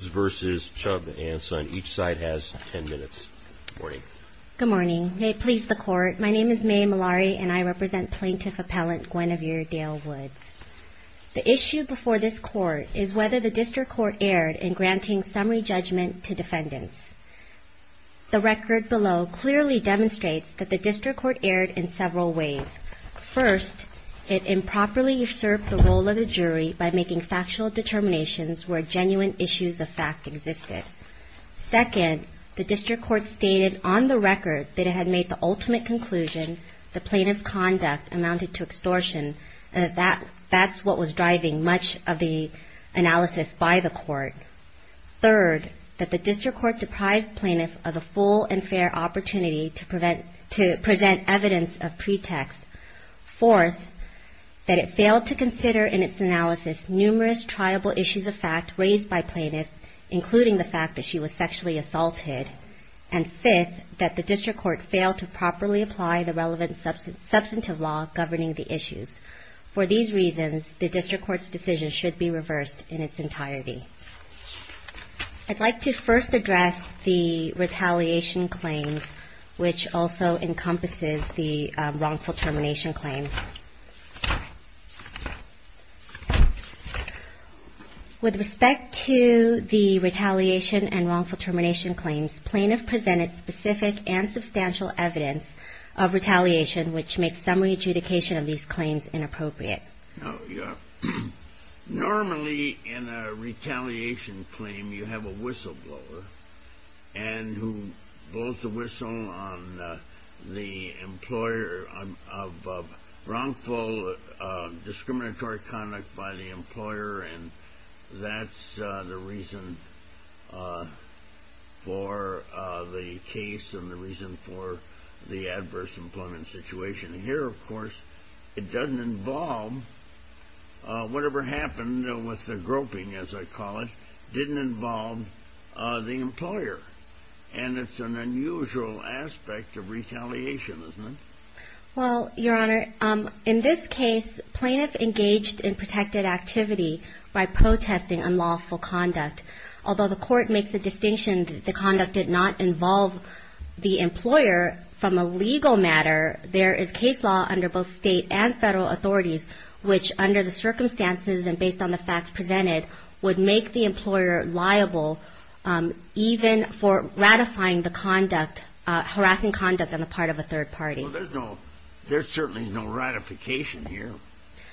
each side has 10 minutes. Good morning. Good morning. May it please the court. My name is May Malari and I represent Plaintiff Appellant Gwynevere Dale Woods. The issue before this court is whether the district court erred in granting summary judgment to defendants. The record below clearly demonstrates that the district court erred in several ways. First, it improperly usurped the role of the jury by making factual determinations where genuine issues of fact existed. Second, the district court stated on the record that it had made the ultimate conclusion that plaintiff's conduct amounted to extortion and that that's what was driving much of the analysis by the court. Third, that the district court deprived plaintiff of a full and fair opportunity to present evidence of pretext. Fourth, that it failed to consider in its analysis numerous triable issues of fact raised by plaintiff including the fact that she was sexually assaulted. And fifth, that the district court failed to properly apply the relevant substantive law governing the issues. For these reasons, the district court's decision should be reversed in its entirety. I'd like to first address the retaliation claims which also encompasses the wrongful termination claim. With respect to the retaliation and wrongful termination claims, plaintiff presented specific and substantial evidence of retaliation which makes summary adjudication of these claims inappropriate. Normally, in a retaliation claim, you have a whistleblower and who blows the whistle on the employer of wrongful discriminatory conduct by the employer and that's the reason for the case and the reason for the adverse employment situation. Here, of course, it doesn't involve whatever happened with the groping, as I call it, didn't involve the employer and it's an unusual aspect of retaliation, isn't it? Well, Your Honor, in this case, plaintiff engaged in protected activity by protesting unlawful conduct. Although the court makes the distinction that the conduct did not involve the employer, from a legal matter, there is case law under both state and federal authorities which, under the circumstances and based on the facts presented, would make the employer liable even for ratifying the conduct, harassing conduct on the part of a third party. There's certainly no ratification here.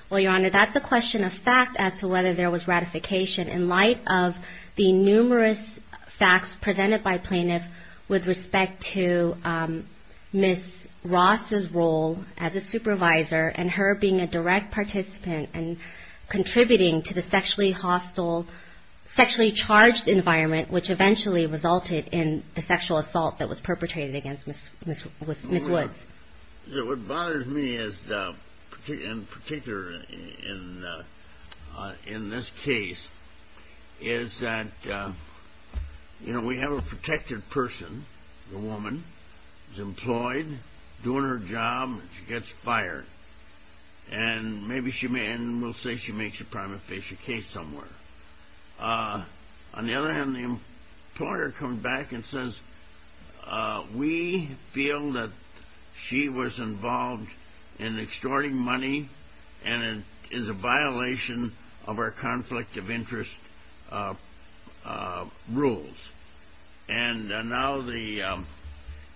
Well, Your Honor, that's a question of fact as to whether there was ratification in light of the numerous facts presented by plaintiff with respect to Ms. Ross' role as a supervisor and her being a direct participant and contributing to the sexually hostile, sexually charged environment which eventually resulted in the sexual assault that was perpetrated against Ms. Woods. Your Honor, what bothers me in particular in this case is that, you know, we have a protected person, a woman, who's employed, doing her job and she gets fired and we'll say she makes a prima facie case somewhere. On the other hand, the employer comes back and says, we feel that she was involved in extorting money and it is a violation of our conflict of interest rules. And now the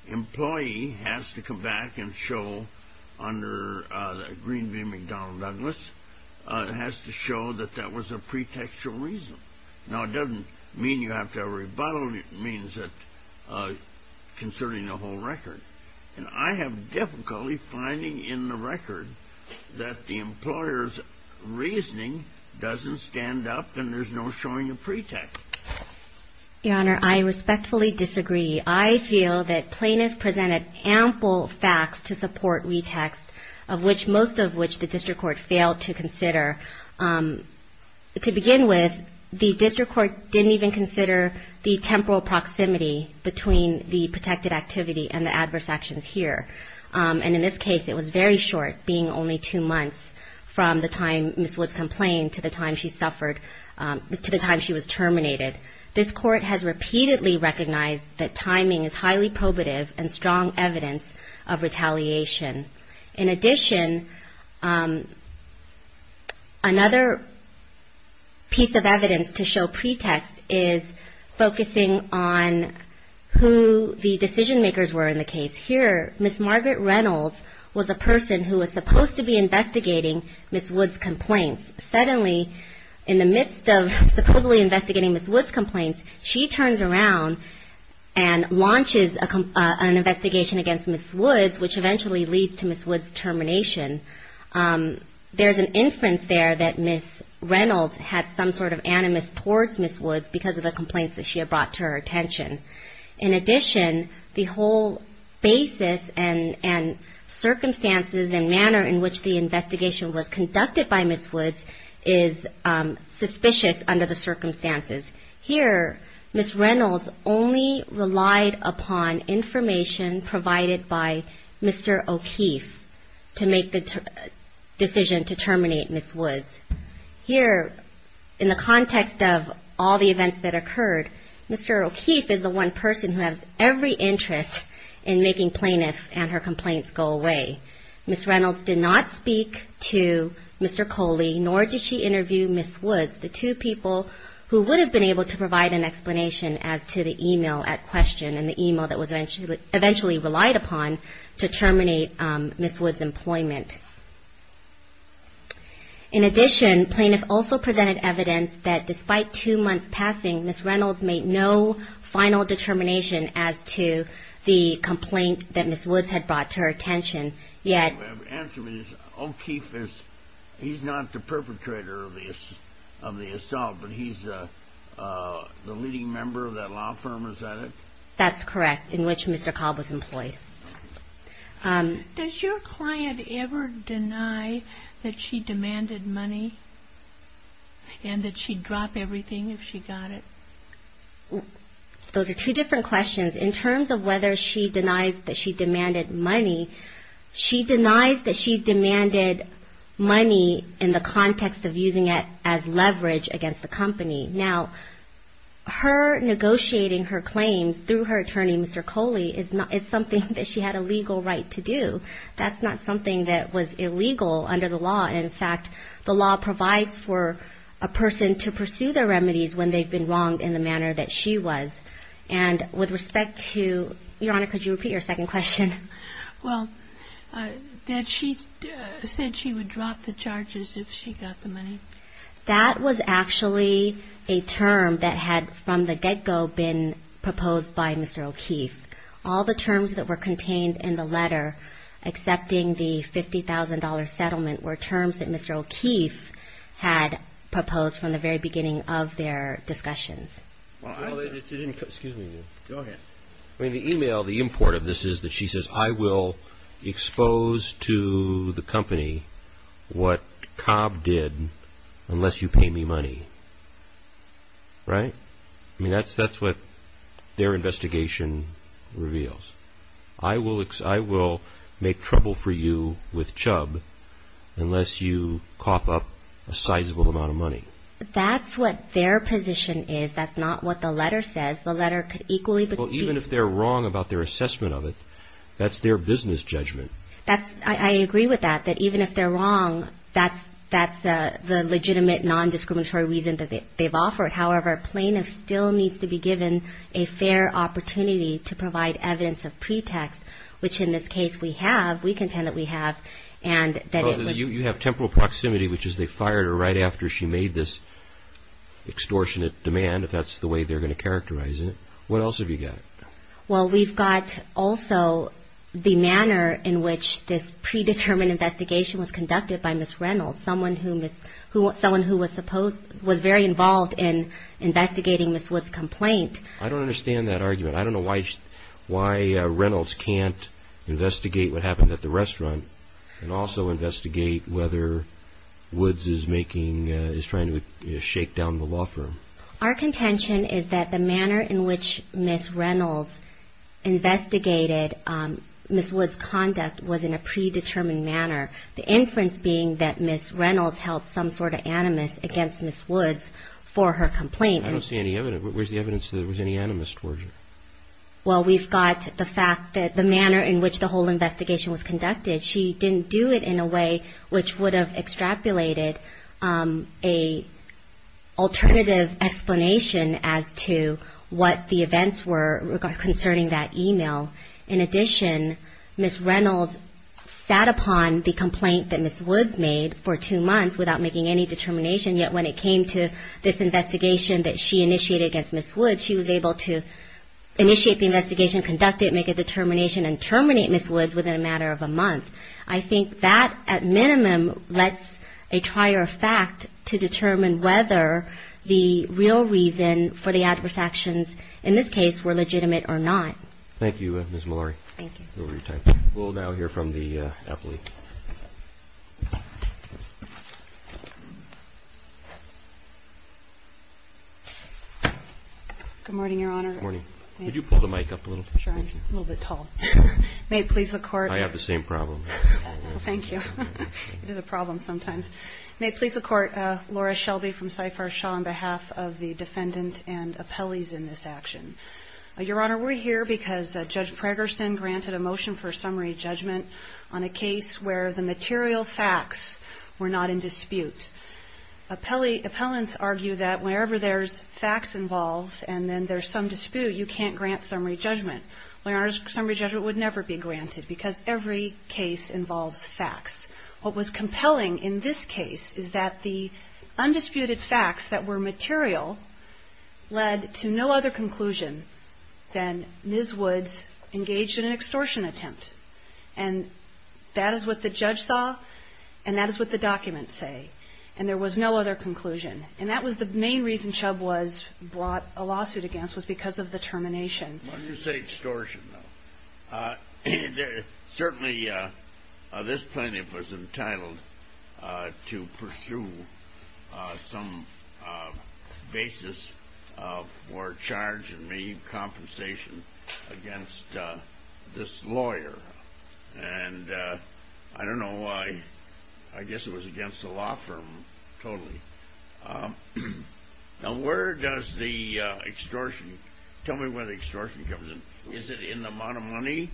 employee has to come back and show under Greenview McDonnell Douglas, has to show that that was a pretextual reason. Now, it doesn't mean you have to have a rebuttal, it means that concerning the whole record. And I have difficulty finding in the record that the employer's reasoning doesn't stand up and there's no showing a pretext. Your Honor, I respectfully disagree. I feel that plaintiff presented ample facts to support retext of which most of which the district court failed to consider. To begin with, the district court didn't even consider the temporal proximity between the protected activity and the adverse actions here. And in this case, it was very short, being only two months from the time Ms. Woods complained to the time she suffered, to the time she was terminated. This court has repeatedly recognized that timing is highly probative and strong evidence of retaliation. In addition, another piece of evidence to show pretext is focusing on who the decision makers were in the case. Here, Ms. Margaret Reynolds was a person who was supposed to be investigating Ms. Woods' complaints. Suddenly, in the midst of supposedly investigating Ms. Woods' complaints, she turns around and launches an investigation against Ms. Woods, which eventually leads to Ms. Woods' termination. There's an inference there that Ms. Reynolds had some sort of animus towards Ms. Woods because of the complaints that she had brought to her attention. In addition, the whole basis and circumstances and manner in which the investigation was conducted by Ms. Woods is suspicious under the circumstances. Here, Ms. Reynolds only relied upon information provided by Mr. O'Keefe to make the decision to terminate Ms. Woods. Here, in the context of all the events that occurred, Mr. O'Keefe is the one person who has every interest in making plaintiff and her complaints go away. Ms. Reynolds did not speak to Mr. Coley, nor did she interview Ms. Woods, the two people who would have been able to provide an explanation as to the email at question and the email that was eventually relied upon to terminate Ms. Woods' employment. In addition, plaintiff also presented evidence that despite two months passing, Ms. Reynolds made no final determination as to the complaint that Ms. Woods had brought to her attention, yet... Answer me this, O'Keefe is, he's not the perpetrator of the assault, but he's the leading member of that law firm, is that it? That's correct, in which Mr. Cobb was employed. Does your client ever deny that she demanded money and that she'd drop everything if she got it? Those are two different questions. In terms of whether she denies that she demanded money, she denies that she demanded money in the context of using it as leverage against the company. Now, her negotiating her claims through her attorney, Mr. Coley, is something that she had a legal right to do. That's not something that was illegal under the law. In fact, the law provides for a person to pursue their remedies when they've been wronged in the manner that she was. And with respect to, Your Honor, could you repeat your second question? Well, that she said she would drop the charges if she got the money. That was actually a term that had, from the get-go, been proposed by Mr. O'Keefe. All the terms that were contained in the letter, excepting the $50,000 settlement, were terms that Mr. O'Keefe had proposed from the very beginning of their discussions. Well, the email, the import of this is that she says, I will expose to the company what Cobb did unless you pay me money. Right? I mean, that's what their investigation reveals. I will make trouble for you with Chubb unless you cough up a sizable amount of money. That's what their position is. That's not what the letter says. The letter could equally be. Well, even if they're wrong about their assessment of it, that's their business judgment. I agree with that, that even if they're wrong, that's the legitimate, non-discriminatory reason that they've offered. However, a plaintiff still needs to be given a fair opportunity to provide evidence of pretext, which in this case we have. We contend that we have. You have temporal proximity, which is they fired her right after she made this extortionate demand, if that's the way they're going to characterize it. What else have you got? Well, we've got also the manner in which this predetermined investigation was conducted by Ms. Reynolds, someone who was very involved in investigating Ms. Woods' complaint. I don't understand that argument. I don't know why Reynolds can't investigate what happened at the restaurant and also investigate whether Woods is trying to shake down the law firm. Our contention is that the manner in which Ms. Reynolds investigated Ms. Woods' conduct was in a predetermined manner, the inference being that Ms. Reynolds held some sort of animus against Ms. Woods for her complaint. I don't see any evidence. Where's the evidence that there was any animus towards her? Well, we've got the fact that the manner in which the whole investigation was conducted, she didn't do it in a way which would have extrapolated a alternative explanation as to what the events were concerning that email. In addition, Ms. Reynolds sat upon the complaint that Ms. Woods made for two months without making any determination, yet when it came to this investigation that she initiated against Ms. Woods, she was able to initiate the investigation, conduct it, make a determination, and terminate Ms. Woods within a matter of a month. I think that, at minimum, lets a trier of fact to determine whether the real reason for the adverse actions, in this case, were legitimate or not. Thank you, Ms. Malari. Thank you. We'll now hear from the appellee. Good morning, Your Honor. Good morning. Could you pull the mic up a little? Sure. I'm a little bit tall. May it please the Court. I have the same problem. Thank you. It is a problem sometimes. May it please the Court. Laura Shelby from CIFAR Shaw on behalf of the defendant and appellees in this action. Your Honor, we're here because Judge Pragerson granted a motion for summary judgment on a case where the material facts were not in dispute. Appellants argue that whenever there's facts involved and then there's some dispute, you can't grant summary judgment. Well, Your Honor, summary judgment would never be granted because every case involves facts. What was compelling in this case is that the undisputed facts that were material led to no other conclusion than Ms. Woods engaged in an extortion attempt. And that is what the judge saw and that is what the documents say. And there was no other conclusion. And that was the main reason Chubb was brought a lawsuit against was because of the termination. When you say extortion, though, certainly this plaintiff was entitled to pursue some basis for charge and may need compensation against this lawyer. And I don't know why. I guess it was against the law firm totally. Now where does the extortion, tell me where the extortion comes in. Is it in the amount of money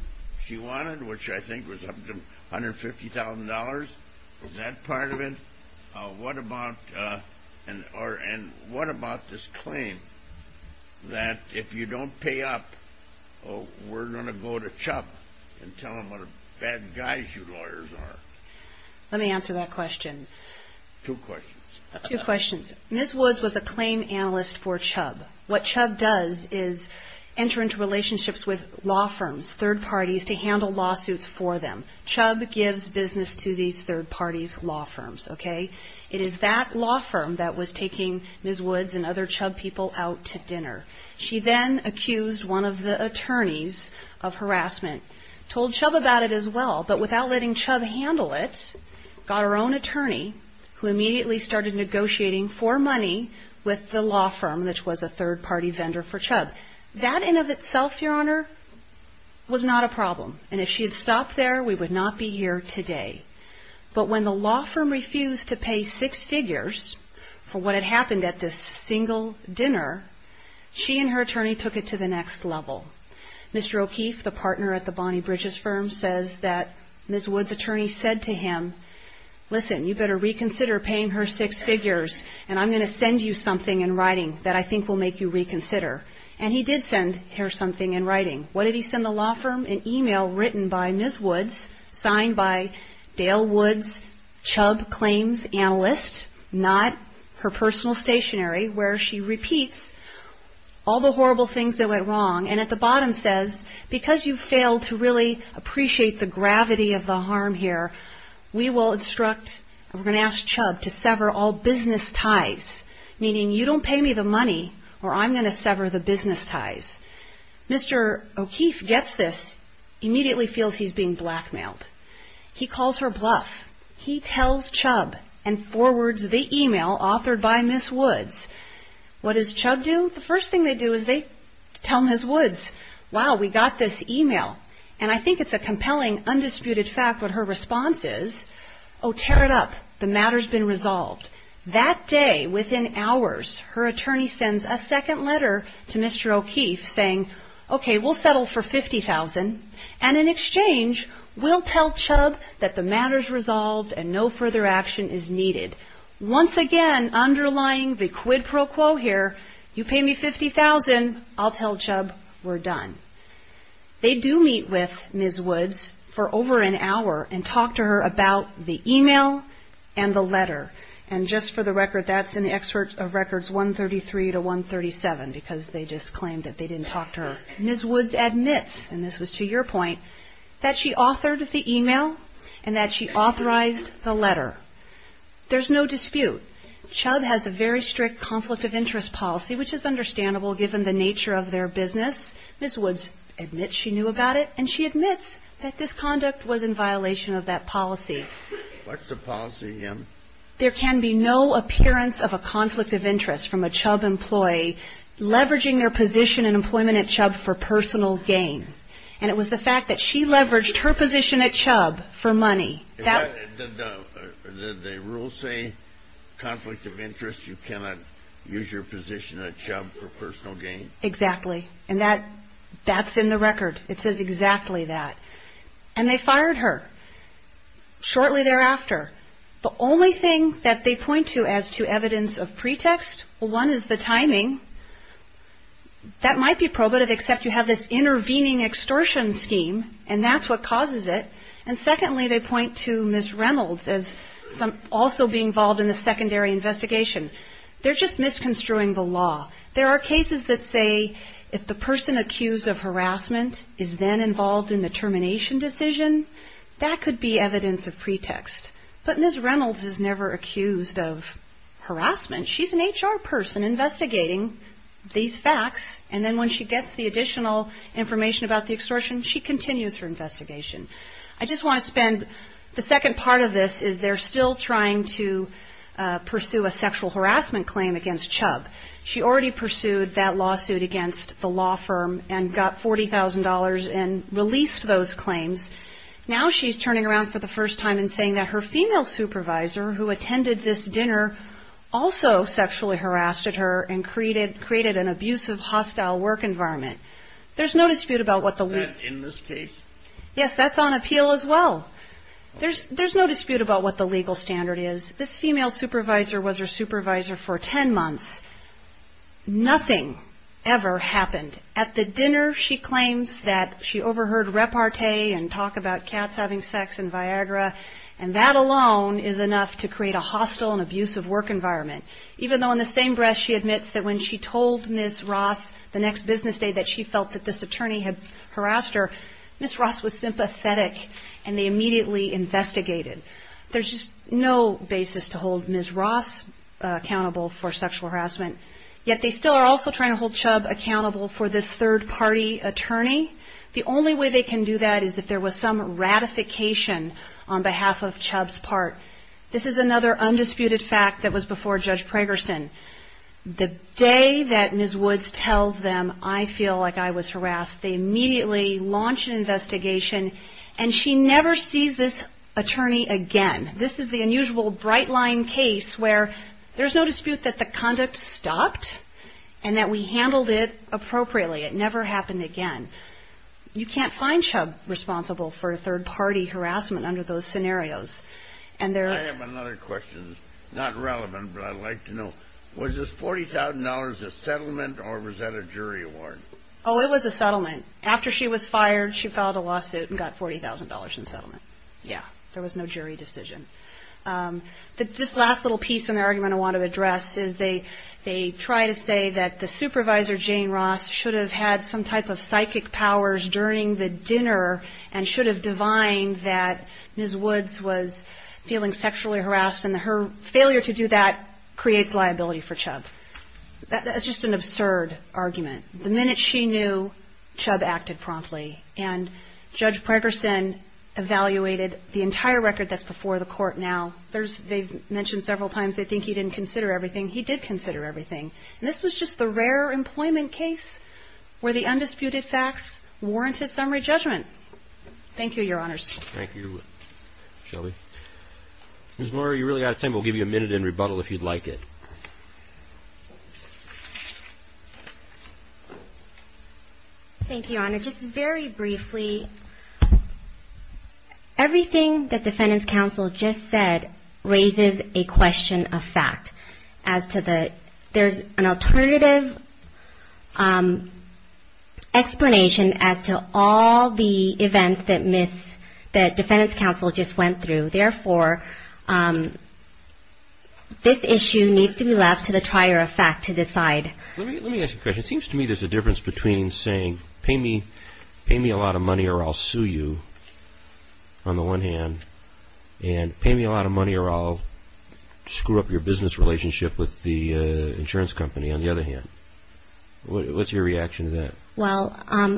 she wanted, which I think was up to $150,000? Is that part of it? And what about this claim that if you don't pay up, we're going to go to Chubb and tell him what bad guys you lawyers are? Let me answer that question. Two questions. Two questions. Ms. Woods was a claim analyst for Chubb. What Chubb does is enter into relationships with law firms, third parties, to handle lawsuits for them. Chubb gives business to these third parties' law firms, okay? It is that law firm that was taking Ms. Woods and other Chubb people out to dinner. She then accused one of the attorneys of harassment, told Chubb about it as well, but without letting Chubb handle it, got her own attorney, who immediately started negotiating for money with the law firm, which was a third-party vendor for Chubb. That in of itself, Your Honor, was not a problem. And if she had stopped there, we would not be here today. But when the law firm refused to pay six figures for what had happened at this single dinner, she and her attorney took it to the next level. Mr. O'Keefe, the partner at the Bonnie Bridges firm, says that Ms. Woods' attorney said to him, listen, you better reconsider paying her six figures, and I'm going to send you something in writing that I think will make you reconsider. And he did send her something in writing. What did he send the law firm? An e-mail written by Ms. Woods, signed by Dale Woods, Chubb claims analyst, not her personal stationery, where she repeats all the horrible things that went wrong, and at the bottom says, because you failed to really appreciate the gravity of the harm here, we will instruct, we're going to ask Chubb to sever all business ties, meaning you don't pay me the money or I'm going to sever the business ties. Mr. O'Keefe gets this, immediately feels he's being blackmailed. He calls her bluff. He tells Chubb and forwards the e-mail authored by Ms. Woods. What does Chubb do? The first thing they do is they tell Ms. Woods, wow, we got this e-mail. And I think it's a compelling, undisputed fact what her response is. Oh, tear it up. The matter's been resolved. That day, within hours, her attorney sends a second letter to Mr. O'Keefe saying, okay, we'll settle for $50,000, and in exchange, we'll tell Chubb that the matter's resolved and no further action is needed. Once again, underlying the quid pro quo here, you pay me $50,000, I'll tell Chubb we're done. They do meet with Ms. Woods for over an hour and talk to her about the e-mail and the letter. And just for the record, that's in the excerpt of records 133 to 137 because they just claimed that they didn't talk to her. Ms. Woods admits, and this was to your point, that she authored the e-mail and that she authorized the letter. There's no dispute. Chubb has a very strict conflict of interest policy, which is understandable given the nature of their business. Ms. Woods admits she knew about it, and she admits that this conduct was in violation of that policy. What's the policy, again? There can be no appearance of a conflict of interest from a Chubb employee leveraging their position in employment at Chubb for personal gain. And it was the fact that she leveraged her position at Chubb for money. Did the rules say conflict of interest? You cannot use your position at Chubb for personal gain? Exactly. And that's in the record. It says exactly that. And they fired her shortly thereafter. The only thing that they point to as to evidence of pretext, one is the timing. That might be probative, except you have this intervening extortion scheme, and that's what causes it. And secondly, they point to Ms. Reynolds as also being involved in the secondary investigation. They're just misconstruing the law. There are cases that say if the person accused of harassment is then involved in the termination decision, that could be evidence of pretext. But Ms. Reynolds is never accused of harassment. She's an HR person investigating these facts. And then when she gets the additional information about the extortion, she continues her investigation. I just want to spend the second part of this is they're still trying to pursue a sexual harassment claim against Chubb. She already pursued that lawsuit against the law firm and got $40,000 and released those claims. Now she's turning around for the first time and saying that her female supervisor who attended this dinner also sexually harassed her and created an abusive, hostile work environment. There's no dispute about what the legal standard is. Was that in this case? Yes, that's on appeal as well. There's no dispute about what the legal standard is. This female supervisor was her supervisor for 10 months. Nothing ever happened. At the dinner, she claims that she overheard repartee and talk about cats having sex in Viagra, and that alone is enough to create a hostile and abusive work environment. Even though in the same breath she admits that when she told Ms. Ross the next business day that she felt that this attorney had harassed her, Ms. Ross was sympathetic and they immediately investigated. There's just no basis to hold Ms. Ross accountable for sexual harassment, yet they still are also trying to hold Chubb accountable for this third-party attorney. The only way they can do that is if there was some ratification on behalf of Chubb's part. This is another undisputed fact that was before Judge Pragerson. The day that Ms. Woods tells them, I feel like I was harassed, they immediately launch an investigation, and she never sees this attorney again. This is the unusual bright-line case where there's no dispute that the conduct stopped and that we handled it appropriately. It never happened again. You can't find Chubb responsible for third-party harassment under those scenarios. I have another question, not relevant, but I'd like to know. Was this $40,000 a settlement or was that a jury award? Oh, it was a settlement. After she was fired, she filed a lawsuit and got $40,000 in settlement. Yeah, there was no jury decision. This last little piece in the argument I want to address is they try to say that the supervisor, Jane Ross, should have had some type of psychic powers during the dinner and should have divined that Ms. Woods was feeling sexually harassed, and her failure to do that creates liability for Chubb. That's just an absurd argument. The minute she knew, Chubb acted promptly, and Judge Pregerson evaluated the entire record that's before the court now. They've mentioned several times they think he didn't consider everything. He did consider everything. This was just the rare employment case where the undisputed facts warranted summary judgment. Thank you, Your Honors. Thank you, Shelby. Ms. Murray, you've really got time. We'll give you a minute in rebuttal if you'd like it. Thank you, Your Honor. Just very briefly, everything that defendants' counsel just said raises a question of fact. There's an alternative explanation as to all the events that defendants' counsel just went through. Therefore, this issue needs to be left to the trier of fact to decide. Let me ask you a question. It seems to me there's a difference between saying pay me a lot of money or I'll sue you, on the one hand, and pay me a lot of money or I'll screw up your business relationship with the insurance company, on the other hand. What's your reaction to that? Well,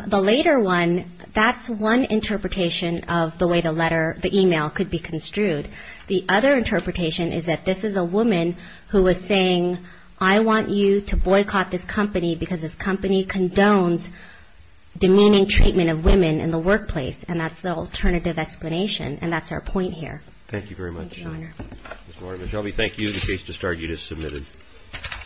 the later one, that's one interpretation of the way the email could be construed. The other interpretation is that this is a woman who was saying, I want you to boycott this company because this company condones demeaning treatment of women in the workplace, and that's the alternative explanation, and that's our point here. Thank you very much. Thank you, Your Honor. Ms. Lord, Ms. Shelby, thank you. The case to start is submitted.